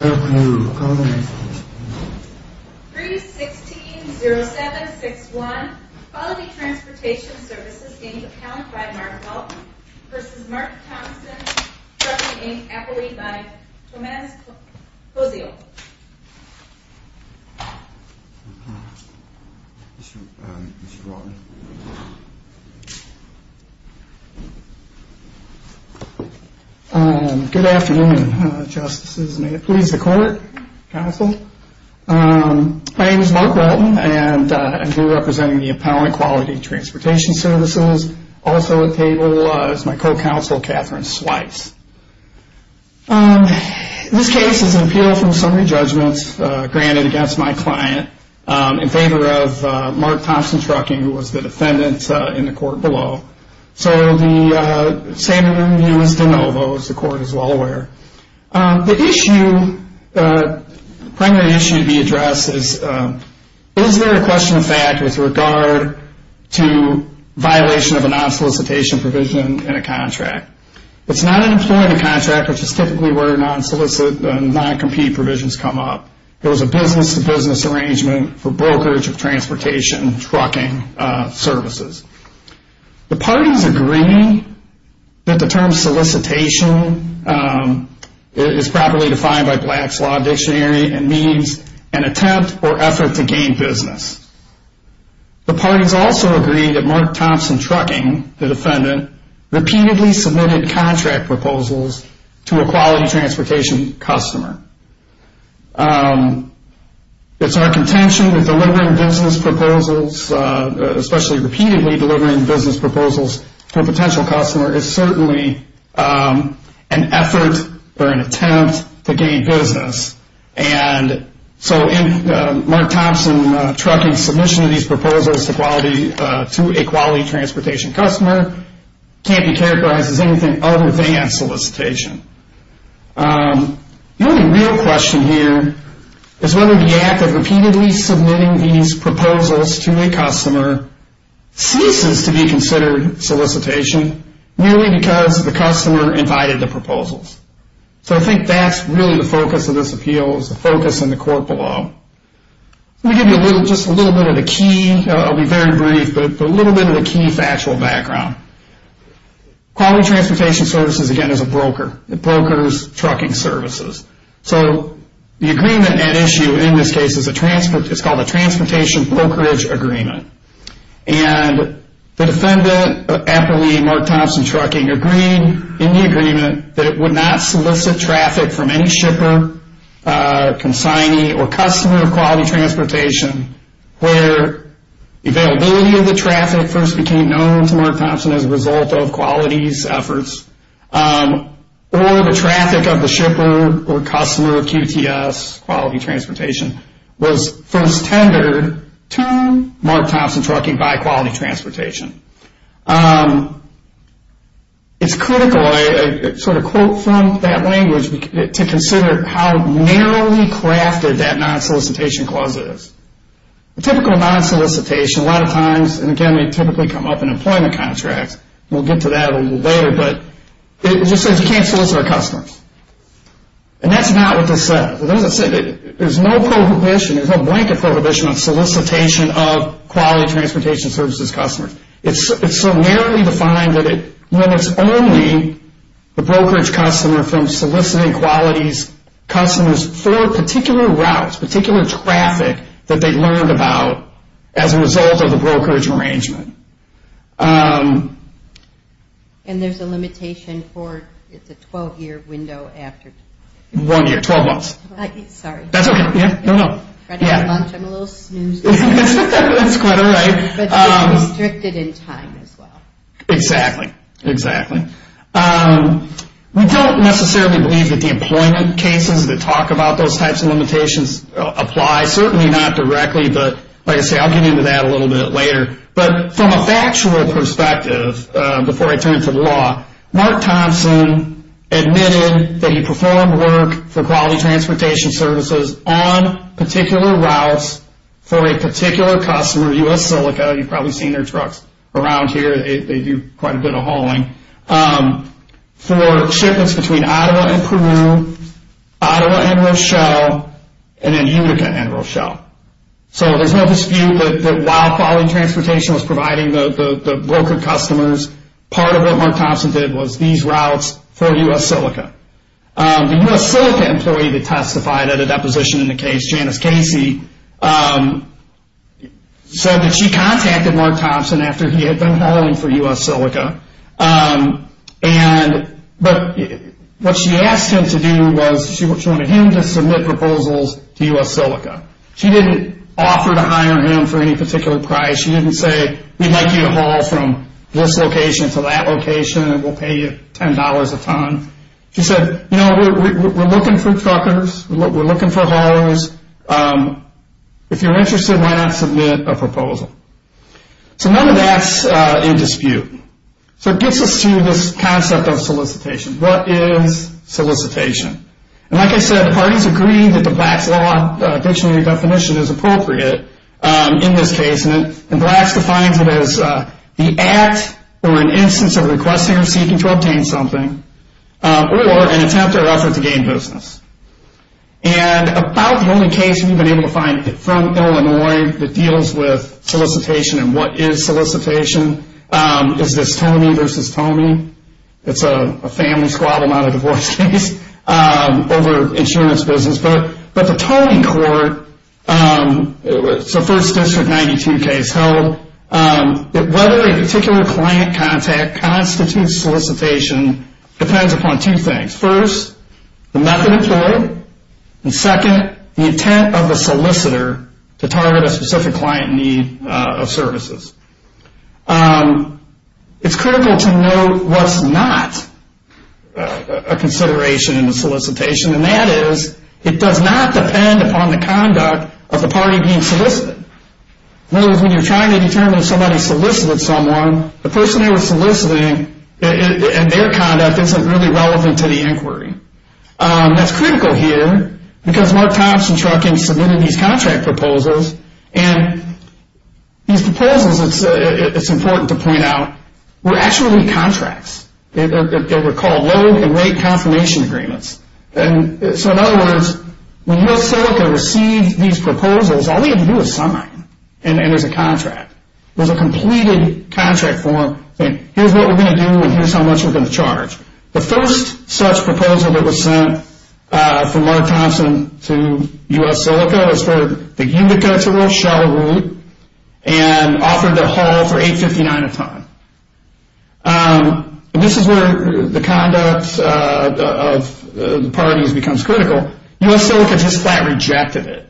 Good afternoon. 3-16-07-61 Quality Transportation Services, Inc. Accounted by Mark Walton v. Mark Thompson Trucking, Inc. Appellee by Tomas Pozeo. Mr. Walton. Good afternoon, Justices. May it please the Court, Counsel. My name is Mark Walton, and I'm here representing the Appellant Quality Transportation Services. Also at the table is my co-counsel, Catherine Swipes. This case is an appeal from summary judgments granted against my client in favor of Mark Thompson Trucking, who was the defendant in the court below. So the statement of review is de novo, as the Court is well aware. The issue, the primary issue to be addressed is, is there a question of fact with regard to violation of a non-solicitation provision in a contract? It's not an employment contract, which is typically where non-compete provisions come up. It was a business-to-business arrangement for brokerage of transportation and trucking services. The parties agree that the term solicitation is properly defined by Black's Law Dictionary and means an attempt or effort to gain business. The parties also agree that Mark Thompson Trucking, the defendant, repeatedly submitted contract proposals to a quality transportation customer. It's our contention that delivering business proposals, especially repeatedly delivering business proposals to a potential customer, is certainly an effort or an attempt to gain business. So Mark Thompson Trucking's submission of these proposals to a quality transportation customer can't be characterized as anything other than solicitation. The only real question here is whether the act of repeatedly submitting these proposals to a customer ceases to be considered solicitation merely because the customer invited the proposals. So I think that's really the focus of this appeal, the focus in the court below. Let me give you just a little bit of the key factual background. Quality transportation services, again, is a broker. It brokers trucking services. So the agreement at issue in this case is called the Transportation Brokerage Agreement. And the defendant, apparently Mark Thompson Trucking, agreed in the agreement that it would not solicit traffic from any shipper, consignee, or customer of quality transportation where availability of the traffic first became known to Mark Thompson as a result of quality's efforts, or the traffic of the shipper or customer of QTS, quality transportation, was first tendered to Mark Thompson Trucking by quality transportation. It's critical, I sort of quote from that language, to consider how narrowly crafted that non-solicitation clause is. A typical non-solicitation, a lot of times, and again they typically come up in employment contracts, and we'll get to that a little later, but it just says you can't solicit our customers. And that's not what this says. There's no prohibition, there's no blanket prohibition on solicitation of quality transportation services customers. It's so narrowly defined that it limits only the brokerage customer from soliciting quality's customers for particular routes, particular traffic that they learned about as a result of the brokerage arrangement. And there's a limitation for, it's a 12-year window after. One year, 12 months. Sorry. That's okay, yeah, no, no. I'm trying to have lunch, I'm a little snoozed. That's quite all right. But they're restricted in time as well. Exactly, exactly. We don't necessarily believe that the employment cases that talk about those types of limitations apply. Certainly not directly, but like I say, I'll get into that a little bit later. But from a factual perspective, before I turn it to the law, Mark Thompson admitted that he performed work for quality transportation services on particular routes for a particular customer, U.S. Silica, you've probably seen their trucks around here, they do quite a bit of hauling, for shipments between Ottawa and Peru, Ottawa and Rochelle, and then Utica and Rochelle. So there's no dispute that while quality transportation was providing the broker customers, part of what Mark Thompson did was these routes for U.S. Silica. The U.S. Silica employee that testified at a deposition in the case, Janice Casey, said that she contacted Mark Thompson after he had done hauling for U.S. Silica, but what she asked him to do was she wanted him to submit proposals to U.S. Silica. She didn't offer to hire him for any particular price. She didn't say we'd like you to haul from this location to that location and we'll pay you $10 a ton. She said, you know, we're looking for truckers, we're looking for haulers. If you're interested, why not submit a proposal? So none of that's in dispute. So it gets us to this concept of solicitation. What is solicitation? And like I said, the parties agree that the Black's Law dictionary definition is appropriate in this case, and Black's defines it as the act or an instance of requesting or seeking to obtain something or an attempt or effort to gain business. And about the only case we've been able to find from Illinois that deals with solicitation and what is solicitation is this Tomey v. Tomey. It's a family squabble, not a divorce case, over insurance business. But the Tomey court, so First District 92 case held, whether a particular client contact constitutes solicitation depends upon two things. First, the method employed. And second, the intent of the solicitor to target a specific client in need of services. It's critical to note what's not a consideration in the solicitation, and that is it does not depend upon the conduct of the party being solicited. In other words, when you're trying to determine if somebody solicited someone, the person who was soliciting and their conduct isn't really relevant to the inquiry. That's critical here because Mark Thompson-Truckin submitted these contract proposals, and these proposals, it's important to point out, were actually contracts. They were called low and rate confirmation agreements. So in other words, when U.S. Silica received these proposals, all they had to do was sign and there's a contract. There's a completed contract form saying here's what we're going to do and here's how much we're going to charge. The first such proposal that was sent from Mark Thompson to U.S. Silica was for the unit to go to Rochelle Route and offer to haul for $8.59 a ton. This is where the conduct of the parties becomes critical. U.S. Silica just flat rejected it.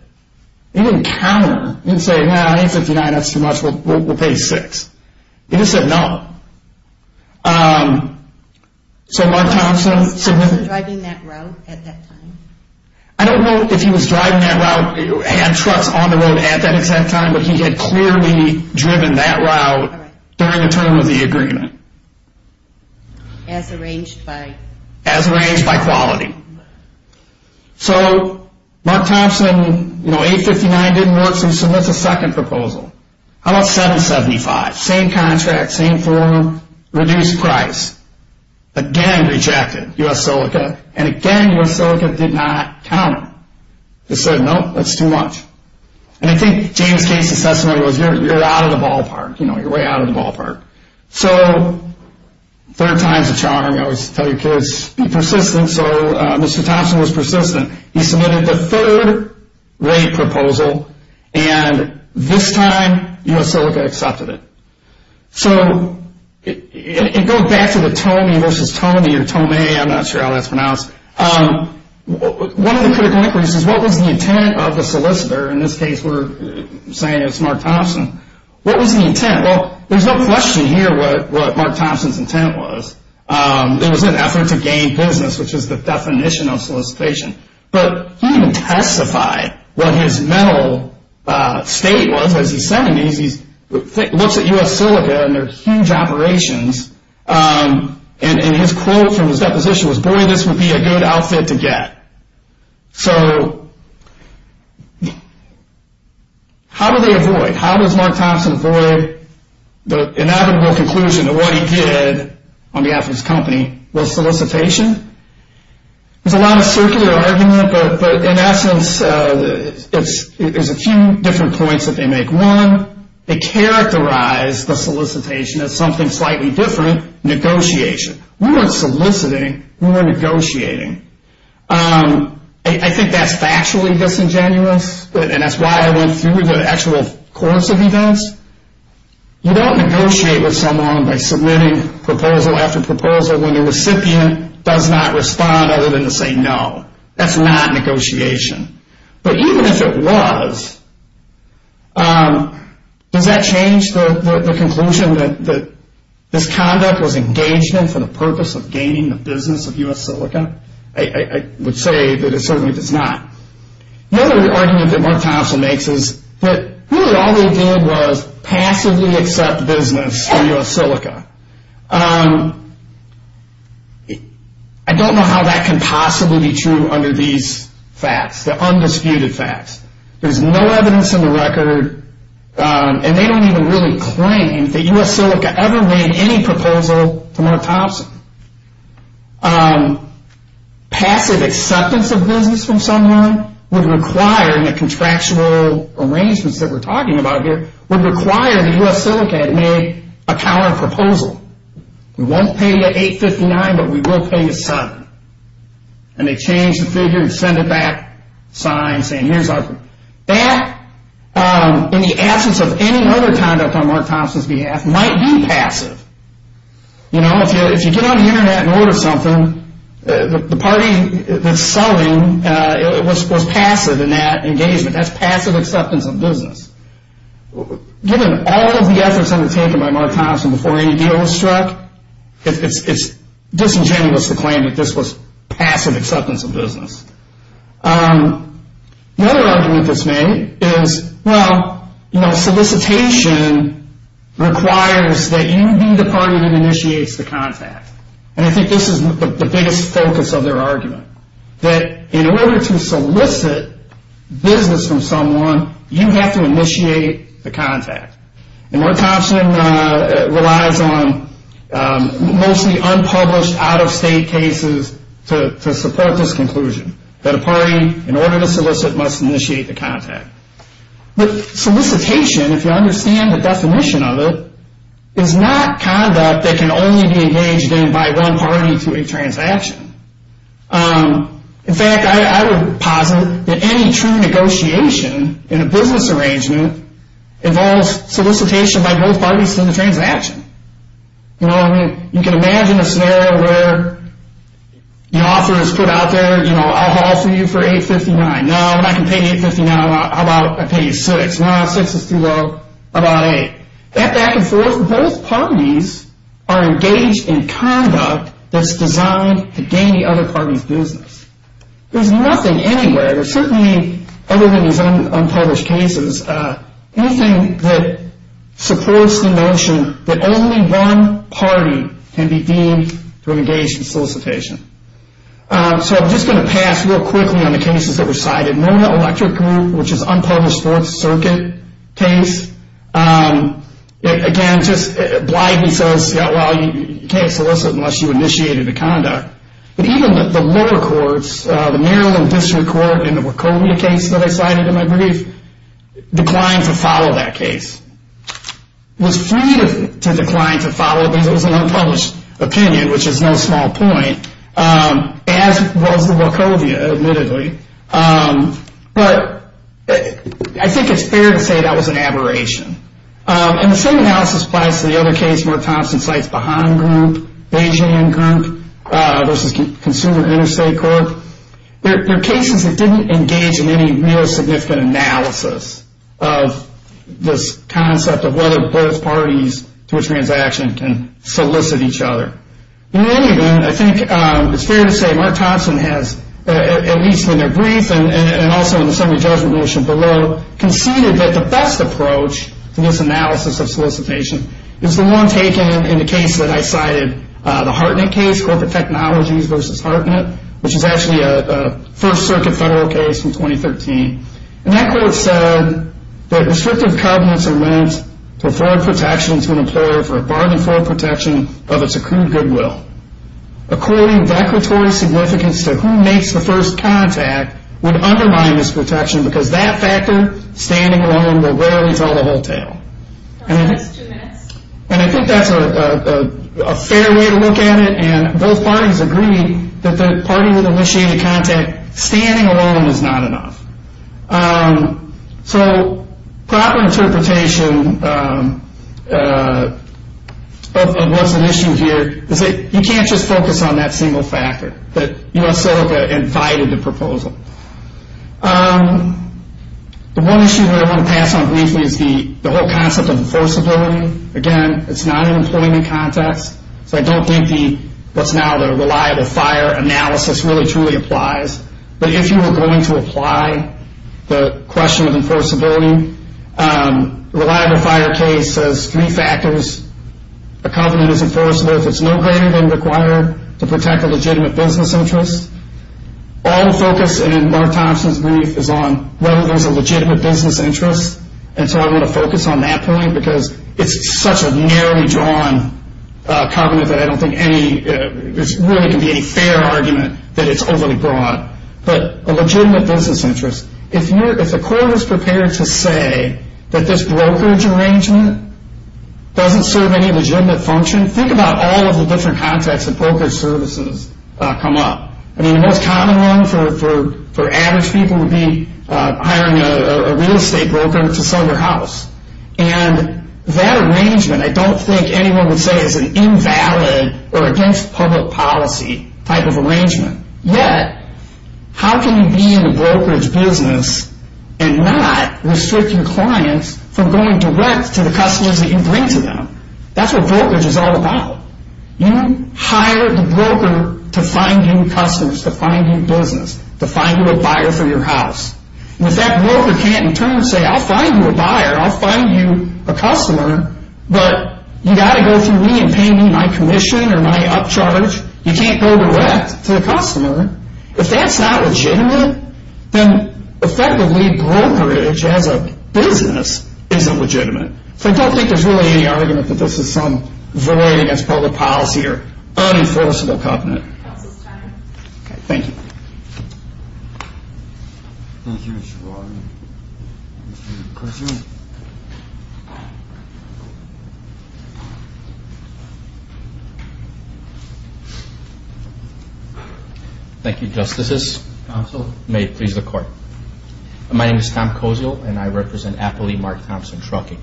They didn't counter. They didn't say, no, $8.59, that's too much, we'll pay $6.00. They just said no. So Mark Thompson-Truckin- Was Mark Thompson driving that route at that time? I don't know if he was driving that route and trucks on the road at that exact time, but he had clearly driven that route during the term of the agreement. As arranged by- As arranged by quality. So Mark Thompson, $8.59 didn't work, so he submits a second proposal. How about $7.75? Same contract, same form, reduced price. Again, rejected, U.S. Silica. And again, U.S. Silica did not counter. They said, no, that's too much. And I think James Case's assessment was, you're out of the ballpark. You know, you're way out of the ballpark. So third time's a charm. I always tell you kids, be persistent. So Mr. Thompson was persistent. He submitted the third rate proposal, and this time U.S. Silica accepted it. So it goes back to the Tomei versus Tomei, or Tomei, I'm not sure how that's pronounced. One of the critical inquiries is, what was the intent of the solicitor? In this case, we're saying it's Mark Thompson. What was the intent? Well, there's no question here what Mark Thompson's intent was. It was an effort to gain business, which is the definition of solicitation. But he didn't testify what his mental state was. Because he said he looks at U.S. Silica and their huge operations, and his quote from his deposition was, boy, this would be a good outfit to get. So how do they avoid, how does Mark Thompson avoid the inevitable conclusion that what he did on behalf of his company was solicitation? There's a lot of circular argument, but in essence, there's a few different points that they make. One, they characterize the solicitation as something slightly different, negotiation. We weren't soliciting, we were negotiating. I think that's factually disingenuous, and that's why I went through the actual course of events. You don't negotiate with someone by submitting proposal after proposal when the recipient does not respond other than to say no. That's not negotiation. But even if it was, does that change the conclusion that this conduct was engagement for the purpose of gaining the business of U.S. Silica? I would say that it certainly does not. Another argument that Mark Thompson makes is that really all they did was passively accept business for U.S. Silica. I don't know how that can possibly be true under these facts, the undisputed facts. There's no evidence in the record, and they don't even really claim that U.S. Silica ever made any proposal to Mark Thompson. Passive acceptance of business from someone would require, in the contractual arrangements that we're talking about here, would require that U.S. Silica had made a counterproposal. We won't pay you $8.59, but we will pay you $7. And they change the figure and send it back, sign, saying here's our... That, in the absence of any other conduct on Mark Thompson's behalf, might be passive. You know, if you get on the Internet and order something, the party that's selling was passive in that engagement. That's passive acceptance of business. Given all of the efforts undertaken by Mark Thompson before any deal was struck, it's disingenuous to claim that this was passive acceptance of business. The other argument that's made is, well, solicitation requires that you be the party that initiates the contact. And I think this is the biggest focus of their argument, that in order to solicit business from someone, you have to initiate the contact. And Mark Thompson relies on mostly unpublished, out-of-state cases to support this conclusion, that a party, in order to solicit, must initiate the contact. But solicitation, if you understand the definition of it, is not conduct that can only be engaged in by one party through a transaction. In fact, I would posit that any true negotiation in a business arrangement involves solicitation by both parties through the transaction. You know what I mean? You can imagine a scenario where the offer is put out there, you know, I'll offer you for $8.59. No, when I can pay you $8.59, how about I pay you $6.00? No, $6.00 is too low. How about $8.00? Back and forth, both parties are engaged in conduct that's designed to gain the other party's business. There's nothing anywhere, certainly other than these unpublished cases, anything that supports the notion that only one party can be deemed to have engaged in solicitation. So I'm just going to pass real quickly on the cases that were cited. The Mona Electric Group, which is an unpublished Fourth Circuit case, again, just blithely says, well, you can't solicit unless you initiated the conduct. But even the lower courts, the Maryland District Court and the Wachovia case that I cited in my brief, declined to follow that case. Was free to decline to follow because it was an unpublished opinion, which is no small point, as was the Wachovia, admittedly. But I think it's fair to say that was an aberration. And the same analysis applies to the other case where Thompson cites Bahaan Group, Beijing Group versus Consumer Interstate Corp. They're cases that didn't engage in any real significant analysis of this concept of whether both parties to a transaction can solicit each other. In any event, I think it's fair to say Mark Thompson has, at least in their brief and also in the summary judgment motion below, conceded that the best approach to this analysis of solicitation is the one taken in the case that I cited, the Hartnett case, Corporate Technologies versus Hartnett, which is actually a First Circuit federal case from 2013. And that court said that restrictive covenants are meant to afford protection to an employer for a bargain for protection of its accrued goodwill. According declaratory significance to who makes the first contact would undermine this protection because that factor, standing alone, will rarely tell the whole tale. And I think that's a fair way to look at it. And both parties agree that the party with initiated contact standing alone is not enough. So proper interpretation of what's at issue here is that you can't just focus on that single factor, that US Silica invited the proposal. The one issue that I want to pass on briefly is the whole concept of enforceability. Again, it's not an employment context, so I don't think what's now the reliable FHIR analysis really truly applies. But if you were going to apply the question of enforceability, the reliable FHIR case says three factors. A covenant is enforceable if it's no greater than required to protect a legitimate business interest. All the focus in Mark Thompson's brief is on whether there's a legitimate business interest. And so I want to focus on that point because it's such a narrowly drawn covenant that I don't think there really can be any fair argument that it's overly drawn. But a legitimate business interest. If the court was prepared to say that this brokerage arrangement doesn't serve any legitimate function, think about all of the different contexts that brokerage services come up. I mean, the most common one for average people would be hiring a real estate broker to sell your house. And that arrangement I don't think anyone would say is an invalid or against public policy type of arrangement. Yet, how can you be in the brokerage business and not restrict your clients from going direct to the customers that you bring to them? That's what brokerage is all about. You hire the broker to find you customers, to find you business, to find you a buyer for your house. And if that broker can't in turn say, I'll find you a buyer, I'll find you a customer, but you've got to go through me and pay me my commission or my upcharge. You can't go direct to the customer. If that's not legitimate, then effectively brokerage as a business isn't legitimate. So I don't think there's really any argument that this is some void against public policy or unenforceable covenant. Thank you. Thank you, Justices. May it please the Court. My name is Tom Kozio, and I represent Appley Mark Thompson Trucking.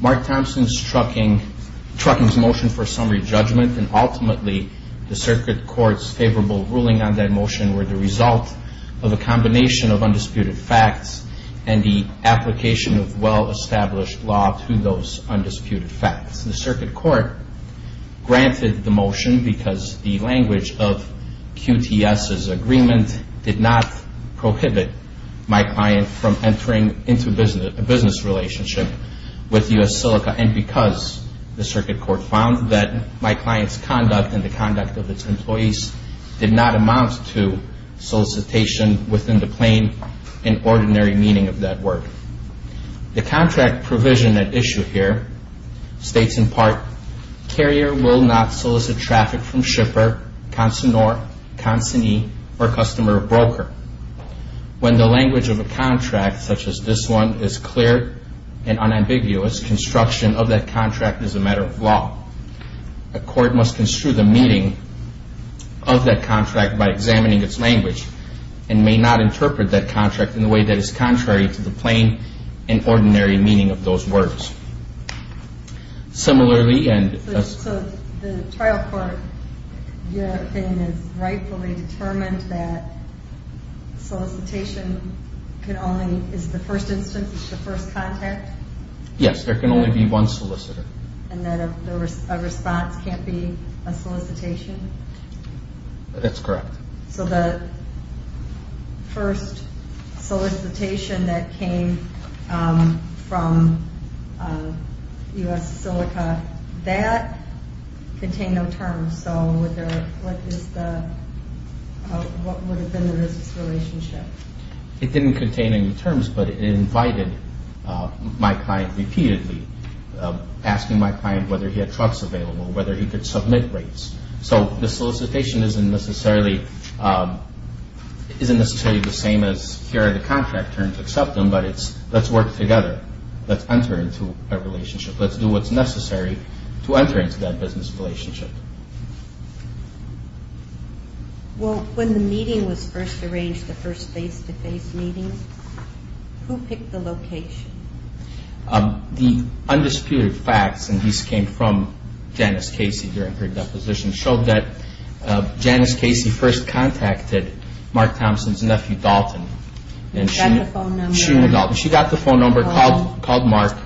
Mark Thompson Trucking's motion for summary judgment, and ultimately the Circuit Court's favorable ruling on that motion were the result of a combination of undisputed facts and the application of well-established law to those undisputed facts. The Circuit Court granted the motion because the language of QTS's agreement did not prohibit my client from entering into a business relationship with U.S. Silica, and because the Circuit Court found that my client's conduct and the conduct of its employees did not amount to solicitation within the plain and ordinary meaning of that word. The contract provision at issue here states in part, Carrier will not solicit traffic from shipper, consignor, consignee, or customer or broker. When the language of a contract, such as this one, is clear and unambiguous, construction of that contract is a matter of law. A court must construe the meaning of that contract by examining its language and may not interpret that contract in a way that is contrary to the plain and ordinary meaning of those words. Similarly, and... So the trial court in your opinion is rightfully determined that solicitation can only, is the first instance, is the first contact? Yes, there can only be one solicitor. And that a response can't be a solicitation? That's correct. So the first solicitation that came from U.S. Silica, that contained no terms. So what is the, what would have been the risks relationship? It didn't contain any terms, but it invited my client repeatedly, asking my client whether he had trucks available, whether he could submit rates. So the solicitation isn't necessarily the same as here are the contract terms, accept them, but it's let's work together. Let's enter into a relationship. Let's do what's necessary to enter into that business relationship. Well, when the meeting was first arranged, the first face-to-face meeting, who picked the location? The undisputed facts, and these came from Janice Casey during her deposition, showed that Janice Casey first contacted Mark Thompson's nephew, Dalton. She got the phone number, called Mark,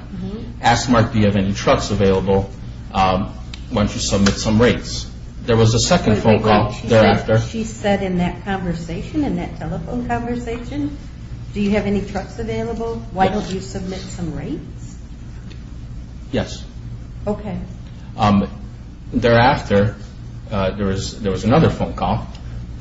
asked Mark, do you have any trucks available? Why don't you submit some rates? There was a second phone call thereafter. She said in that conversation, in that telephone conversation, do you have any trucks available? Why don't you submit some rates? Yes. Okay. Thereafter, there was another phone call.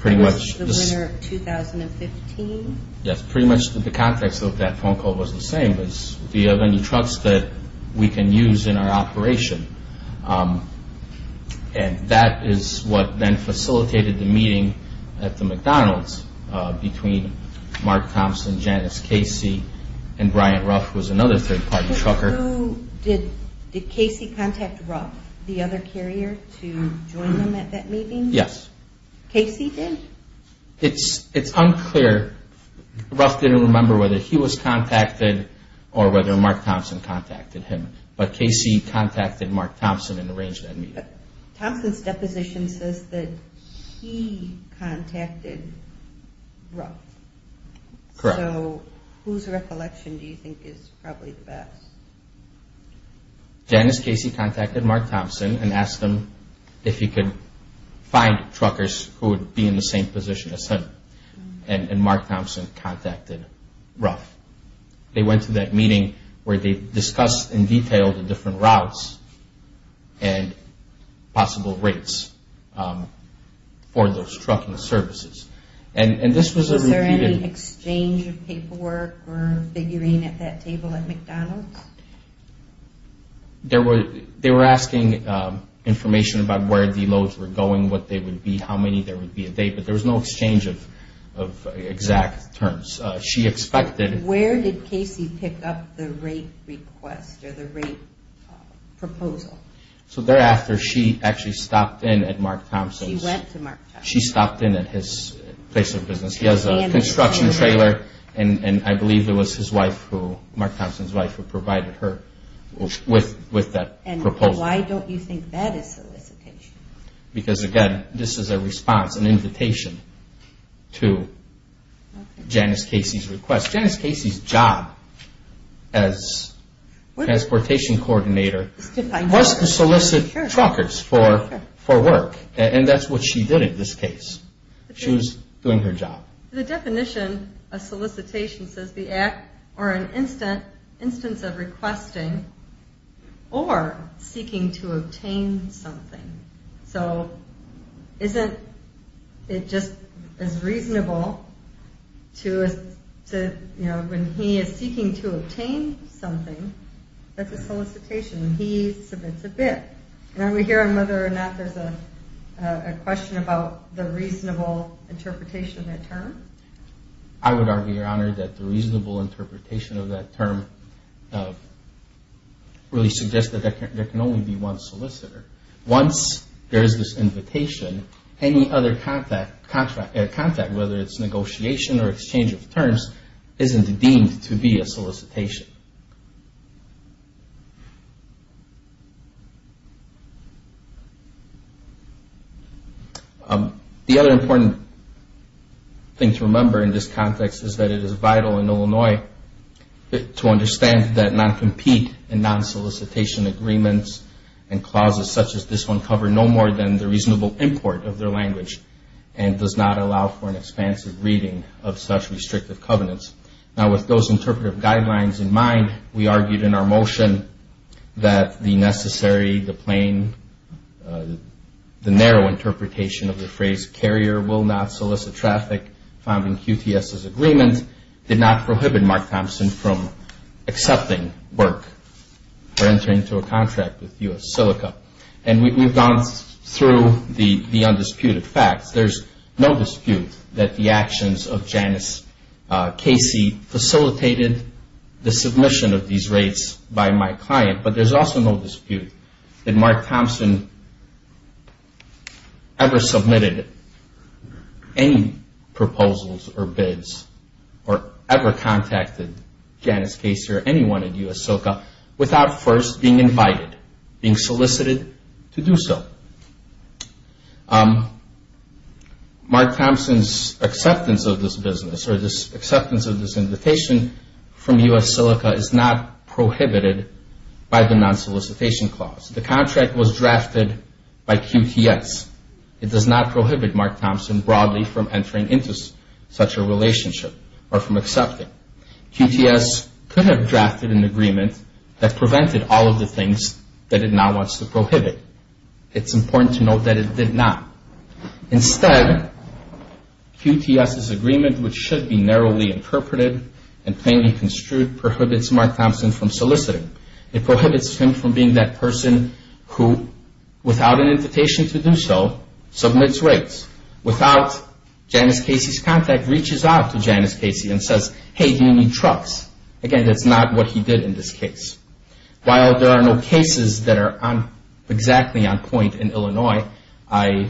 That was the winter of 2015? Yes, pretty much the context of that phone call was the same. Do you have any trucks that we can use in our operation? And that is what then facilitated the meeting at the McDonald's between Mark Thompson, Janice Casey, and Brian Ruff, who was another third-party trucker. Did Casey contact Ruff, the other carrier, to join them at that meeting? Yes. Casey did? It's unclear. Ruff didn't remember whether he was contacted or whether Mark Thompson contacted him, but Casey contacted Mark Thompson and arranged that meeting. Thompson's deposition says that he contacted Ruff. Correct. So whose recollection do you think is probably the best? Janice Casey contacted Mark Thompson and asked him if he could find truckers who would be in the same position as him, and Mark Thompson contacted Ruff. They went to that meeting where they discussed in detail the different routes and possible rates for those trucking services. Was there any exchange of paperwork or figurine at that table at McDonald's? They were asking information about where the loads were going, what they would be, how many there would be a day, but there was no exchange of exact terms. Where did Casey pick up the rate request or the rate proposal? Thereafter, she actually stopped in at Mark Thompson's. She went to Mark Thompson. She stopped in at his place of business. He has a construction trailer, and I believe it was Mark Thompson's wife who provided her with that proposal. Why don't you think that is solicitation? Because, again, this is a response, an invitation to Janice Casey's request. Janice Casey's job as transportation coordinator was to solicit truckers for work, and that's what she did in this case. She was doing her job. The definition of solicitation says the act or an instance of requesting or seeking to obtain something. So isn't it just as reasonable to, you know, when he is seeking to obtain something, that's a solicitation when he submits a bid. And I'm going to hear whether or not there's a question about the reasonable interpretation of that term. I would argue, Your Honor, that the reasonable interpretation of that term really suggests that there can only be one solicitor. Once there is this invitation, any other contact, whether it's negotiation or exchange of terms, isn't deemed to be a solicitation. The other important thing to remember in this context is that it is vital in Illinois to understand that non-compete and non-solicitation agreements and clauses such as this one cover no more than the reasonable import of their language and does not allow for an expansive reading of such restrictive covenants. In 2009, we argued in our motion that the necessary, the plain, the narrow interpretation of the phrase carrier will not solicit traffic found in QTS's agreement did not prohibit Mark Thompson from accepting work for entering into a contract with U.S. Silica. And we've gone through the undisputed facts. There's no dispute that the actions of Janice Casey facilitated the submission of these rates by my client, but there's also no dispute that Mark Thompson ever submitted any proposals or bids or ever contacted Janice Casey or anyone at U.S. Silica without first being invited, being solicited to do so. Mark Thompson's acceptance of this business or this acceptance of this invitation from U.S. Silica is not prohibited by the non-solicitation clause. The contract was drafted by QTS. It does not prohibit Mark Thompson broadly from entering into such a relationship or from accepting. QTS could have drafted an agreement that prevented all of the things that it now wants to prohibit. It's important to note that it did not. Instead, QTS's agreement, which should be narrowly interpreted and plainly construed, prohibits Mark Thompson from soliciting. It prohibits him from being that person who, without an invitation to do so, submits rates. Without Janice Casey's contact, reaches out to Janice Casey and says, hey, do you need trucks? Again, that's not what he did in this case. While there are no cases that are exactly on point in Illinois, I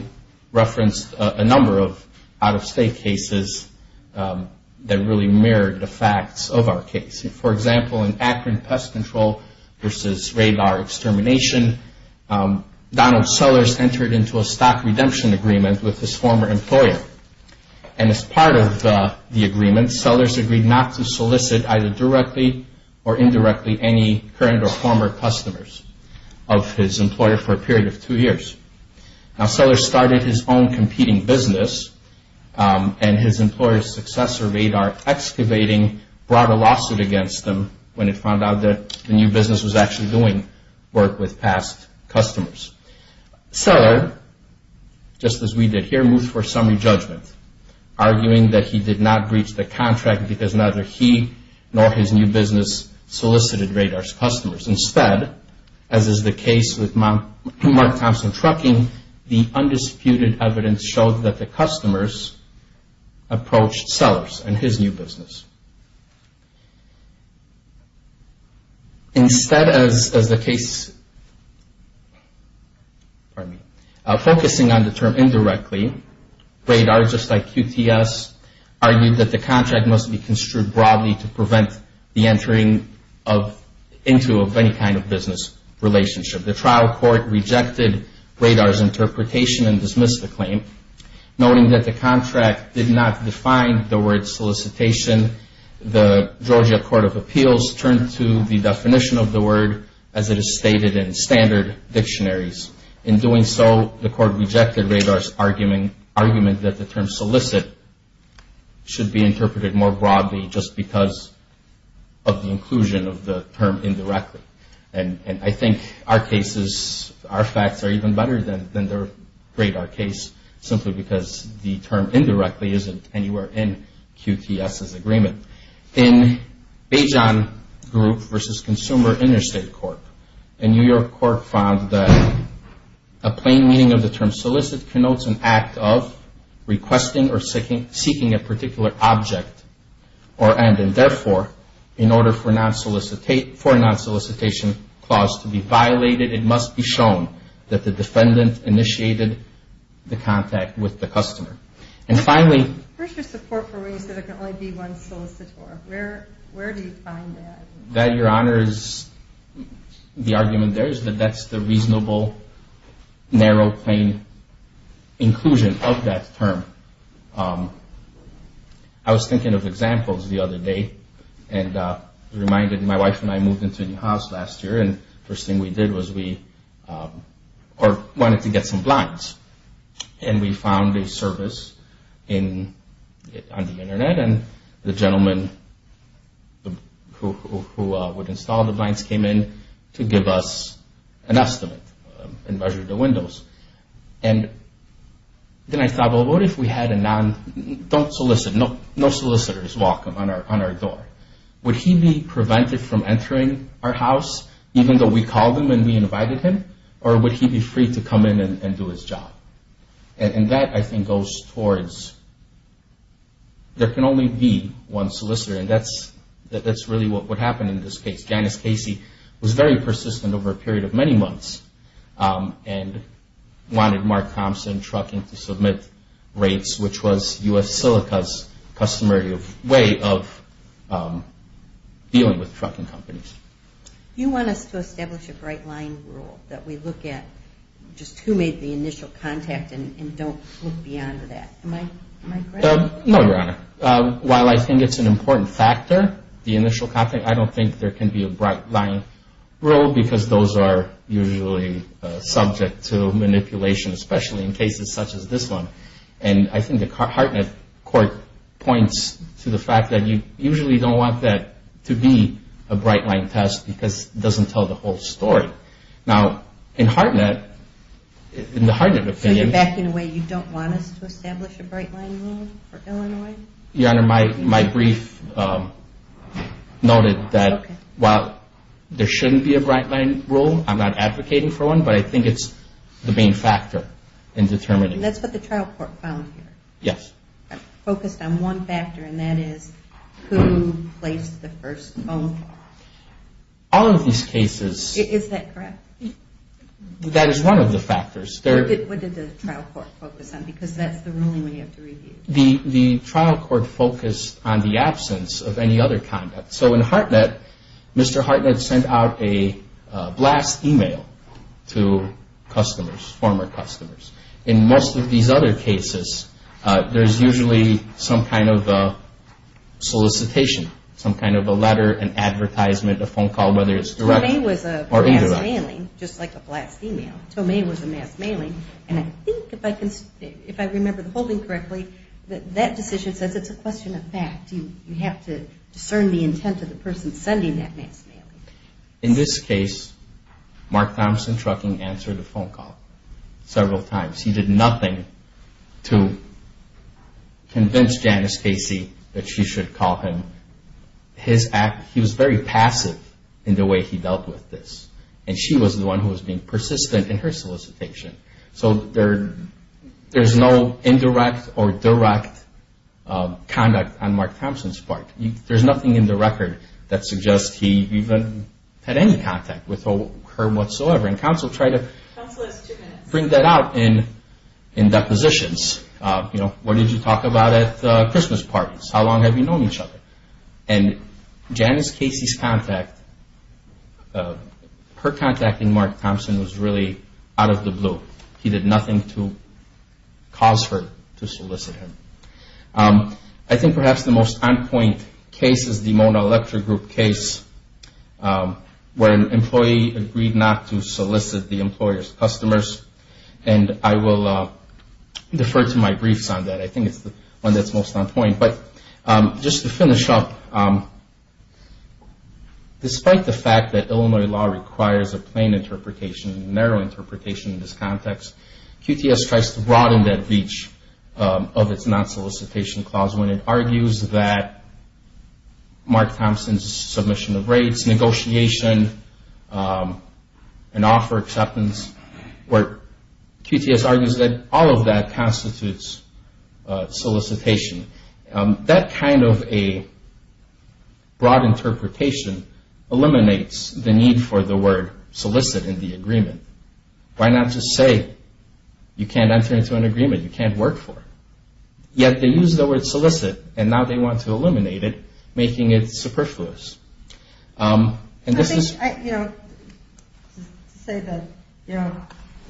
referenced a number of out-of-state cases that really mirrored the facts of our case. For example, in Akron pest control versus radar extermination, Donald Sellers entered into a stock redemption agreement with his former employer. And as part of the agreement, Sellers agreed not to solicit either directly or indirectly any current or former customers of his employer for a period of two years. Now, Sellers started his own competing business, and his employer's successor, Radar Excavating, brought a lawsuit against him when it found out that the new business was actually doing work with past customers. Seller, just as we did here, moved for a summary judgment, arguing that he did not breach the contract because neither he nor his new business solicited Radar's customers. Instead, as is the case with Mark Thompson Trucking, the undisputed evidence showed that the customers approached Sellers and his new business. Instead, as the case, focusing on the term indirectly, Radar, just like QTS, argued that the contract must be construed broadly to prevent the entering into of any kind of business relationship. The trial court rejected Radar's interpretation and dismissed the claim, noting that the contract did not define the word solicitation. The Georgia Court of Appeals turned to the definition of the word as it is stated in standard dictionaries. In doing so, the court rejected Radar's argument that the term solicit should be interpreted more broadly just because of the inclusion of the term indirectly. And I think our cases, our facts are even better than the Radar case simply because the term indirectly isn't anywhere in QTS' agreement. In Bajon Group versus Consumer Interstate Court, a New York court found that a plain meaning of the term solicit connotes an act of requesting or seeking a particular object or end. And therefore, in order for a non-solicitation clause to be violated, it must be shown that the defendant initiated the contact with the customer. And finally... Where's your support for ways that there can only be one solicitor? Where do you find that? That, Your Honor, is the argument there is that that's the reasonable, narrow, plain inclusion of that term. I was thinking of examples the other day and reminded my wife and I moved into a new house last year and the first thing we did was we wanted to get some blinds. And we found a service on the Internet and the gentleman who would install the blinds came in to give us an estimate and measure the windows. And then I thought, well, what if we had a non... Don't solicit. No solicitors walk on our door. Would he be prevented from entering our house even though we called him and we invited him or would he be free to come in and do his job? And that, I think, goes towards there can only be one solicitor and that's really what happened in this case. Janice Casey was very persistent over a period of many months and wanted Mark Thompson Trucking to submit rates, which was U.S. Silica's customary way of dealing with trucking companies. Do you want us to establish a bright line rule that we look at just who made the initial contact and don't look beyond that? Am I correct? No, Your Honor. While I think it's an important factor, the initial contact, I don't think there can be a bright line rule because those are usually subject to manipulation, especially in cases such as this one. And I think the Hartnett court points to the fact that you usually don't want that to be a bright line test because it doesn't tell the whole story. Now, in Hartnett, in the Hartnett opinion... Your Honor, my brief noted that while there shouldn't be a bright line rule, I'm not advocating for one, but I think it's the main factor in determining... And that's what the trial court found here? Yes. Focused on one factor, and that is who placed the first phone call. All of these cases... Is that correct? That is one of the factors. Because that's the ruling we have to review. The trial court focused on the absence of any other conduct. So in Hartnett, Mr. Hartnett sent out a blast email to customers, former customers. In most of these other cases, there's usually some kind of solicitation, some kind of a letter, an advertisement, a phone call, whether it's direct or indirect. Tomei was a mass mailing, just like a blast email. Tomei was a mass mailing. And I think, if I remember the holding correctly, that that decision says it's a question of fact. You have to discern the intent of the person sending that mass mail. In this case, Mark Thompson Trucking answered a phone call several times. He did nothing to convince Janice Casey that she should call him. He was very passive in the way he dealt with this, and she was the one who was being persistent in her solicitation. So there's no indirect or direct conduct on Mark Thompson's part. There's nothing in the record that suggests he even had any contact with her whatsoever. And counsel tried to bring that out in depositions. You know, what did you talk about at the Christmas parties? How long have you known each other? And Janice Casey's contact, her contacting Mark Thompson was really out of the blue. He did nothing to cause her to solicit him. I think perhaps the most on-point case is the Mona Electric Group case, where an employee agreed not to solicit the employer's customers. And I will defer to my briefs on that. But just to finish up, despite the fact that Illinois law requires a plain interpretation, a narrow interpretation in this context, QTS tries to broaden that reach of its non-solicitation clause when it argues that Mark Thompson's submission of rates, negotiation, and offer acceptance, where QTS argues that all of that constitutes solicitation. That kind of a broad interpretation eliminates the need for the word solicit in the agreement. Why not just say you can't enter into an agreement, you can't work for it? Yet they use the word solicit, and now they want to eliminate it, making it superfluous. To say that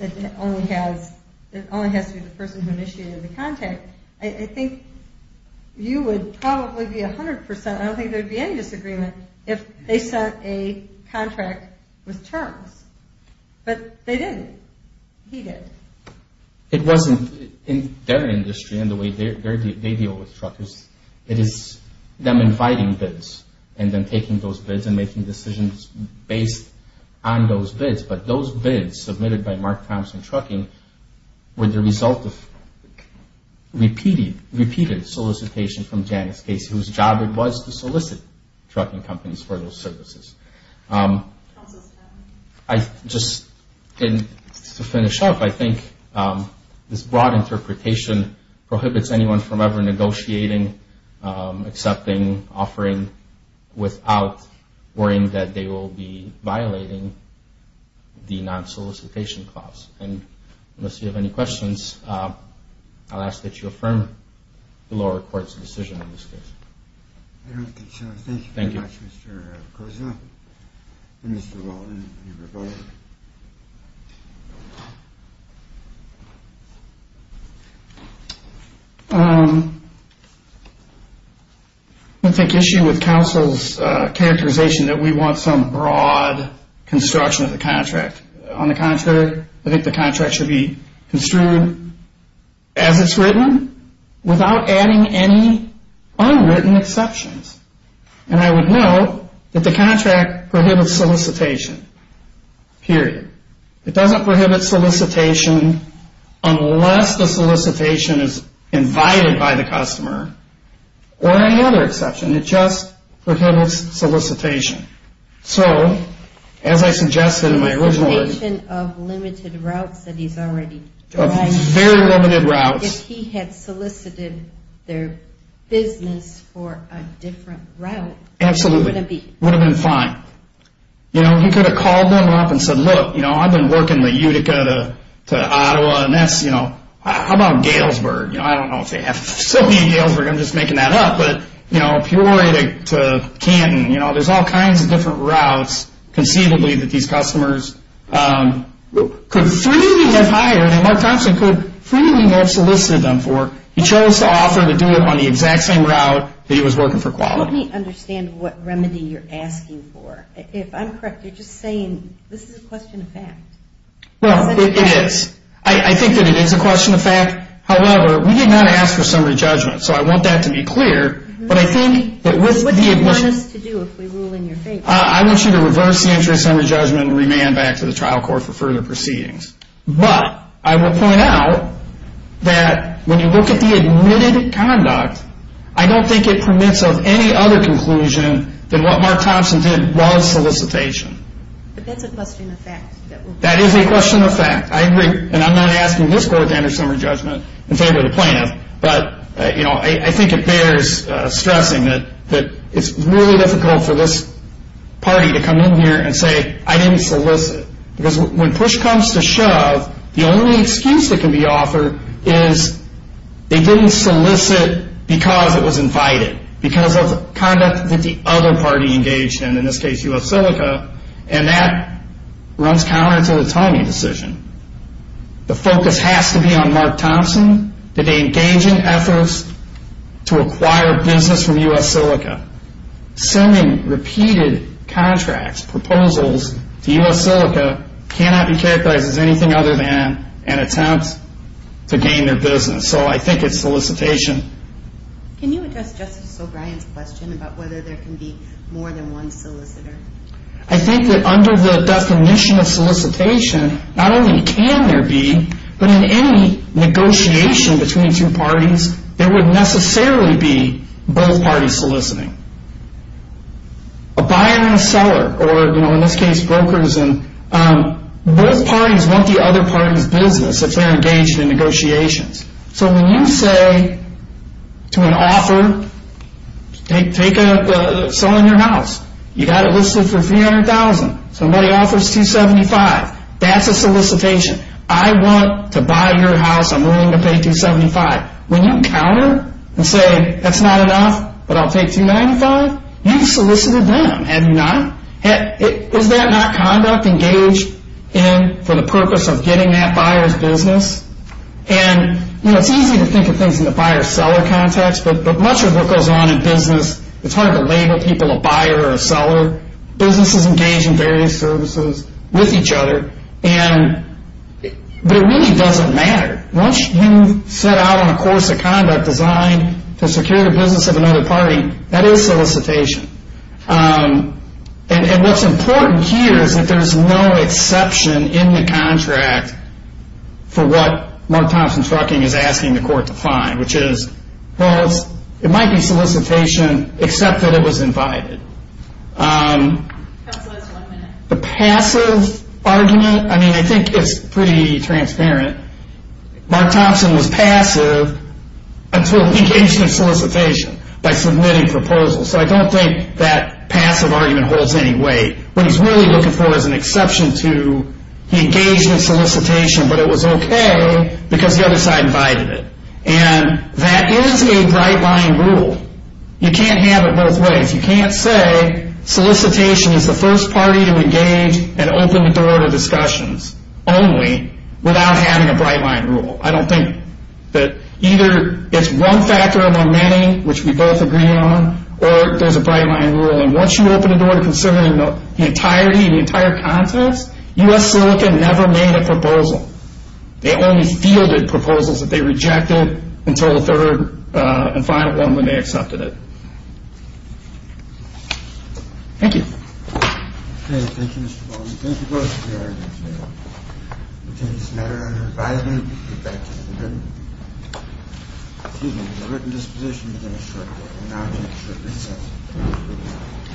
it only has to be the person who initiated the contact, I think you would probably be 100 percent, I don't think there would be any disagreement, if they sent a contract with Turks. But they didn't. He did. It wasn't in their industry and the way they deal with truckers. It is them inviting bids and then taking those bids and making decisions based on those bids. But those bids submitted by Mark Thompson Trucking were the result of repeated solicitation from Janice Casey, whose job it was to solicit trucking companies for those services. Just to finish up, I think this broad interpretation prohibits anyone from ever negotiating, accepting, offering, without worrying that they will be violating the non-solicitation clause. Unless you have any questions, I'll ask that you affirm the lower court's decision on this case. I don't think so. Thank you very much, Mr. Koza and Mr. Walden. I think the issue with counsel's characterization is that we want some broad construction of the contract. I think the contract should be construed as it's written without adding any unwritten exceptions. And I would note that the contract prohibits solicitation. Period. It doesn't prohibit solicitation unless the solicitation is invited by the customer or any other exception. It just prohibits solicitation. So, as I suggested in my original argument... The limitation of limited routes that he's already driving. Very limited routes. If he had solicited their business for a different route... Absolutely. It would have been fine. You know, he could have called them up and said, look, you know, I've been working the Utica to Ottawa and that's, you know, how about Galesburg? I don't know if they have facilities in Galesburg, I'm just making that up, but, you know, Peoria to Canton. There's all kinds of different routes conceivably that these customers could freely have hired and Mark Thompson could freely have solicited them for. He chose to offer to do it on the exact same route that he was working for Quality. Let me understand what remedy you're asking for. If I'm correct, you're just saying this is a question of fact. Well, it is. I think that it is a question of fact. However, we did not ask for summary judgment. So I want that to be clear. What do you want us to do if we rule in your favor? I want you to reverse the entry summary judgment and remand back to the trial court for further proceedings. But I will point out that when you look at the admitted conduct, I don't think it permits of any other conclusion than what Mark Thompson did was solicitation. But that's a question of fact. That is a question of fact. I agree. And I'm not asking this court to enter summary judgment in favor of the plaintiff, but I think it bears stressing that it's really difficult for this party to come in here and say, I didn't solicit. Because when push comes to shove, the only excuse that can be offered is they didn't solicit because it was invited, because of conduct that the other party engaged in, in this case U.S. Silica, and that runs counter to the timing decision. The focus has to be on Mark Thompson. Did they engage in efforts to acquire business from U.S. Silica? Sending repeated contracts, proposals to U.S. Silica, cannot be characterized as anything other than an attempt to gain their business. So I think it's solicitation. Can you address Justice O'Brien's question about whether there can be more than one solicitor? I think that under the definition of solicitation, not only can there be, but in any negotiation between two parties, there would necessarily be both parties soliciting. A buyer and a seller, or in this case brokers, both parties want the other party's business if they're engaged in negotiations. So when you say to an offer, take a seller in your house, you've got it listed for $300,000, somebody offers $275,000, that's a solicitation. I want to buy your house, I'm willing to pay $275,000. When you counter and say that's not an offer, but I'll pay $295,000, you've solicited them. Is that not conduct engaged in for the purpose of getting that buyer's business? It's easy to think of things in the buyer-seller context, but much of what goes on in business, it's hard to label people a buyer or a seller. Businesses engage in various services with each other, but it really doesn't matter. Once you've set out on a course of conduct designed to secure the business of another party, that is solicitation. And what's important here is that there's no exception in the contract for what Mark Thompson's trucking is asking the court to find, which is it might be solicitation, except that it was invited. The passive argument, I think it's pretty transparent. Mark Thompson was passive until he engaged in solicitation by submitting proposals. So I don't think that passive argument holds any weight. What he's really looking for is an exception to he engaged in solicitation, but it was okay because the other side invited it. And that is a bright-line rule. You can't have it both ways. You can't say solicitation is the first party to engage and open the door to discussions only without having a bright-line rule. I don't think that either it's one factor among many, which we both agree on, or there's a bright-line rule. And once you open the door to considering the entirety, the entire context, U.S. Silicon never made a proposal. They only fielded proposals that they rejected until the third and final one when they accepted it. Thank you. Okay. Thank you, Mr. Baldwin. Thank you both for your arguments today. We'll take this matter under advisory. We'll get back to the written disposition within a short while. And now I'll take a short recess. Thank you.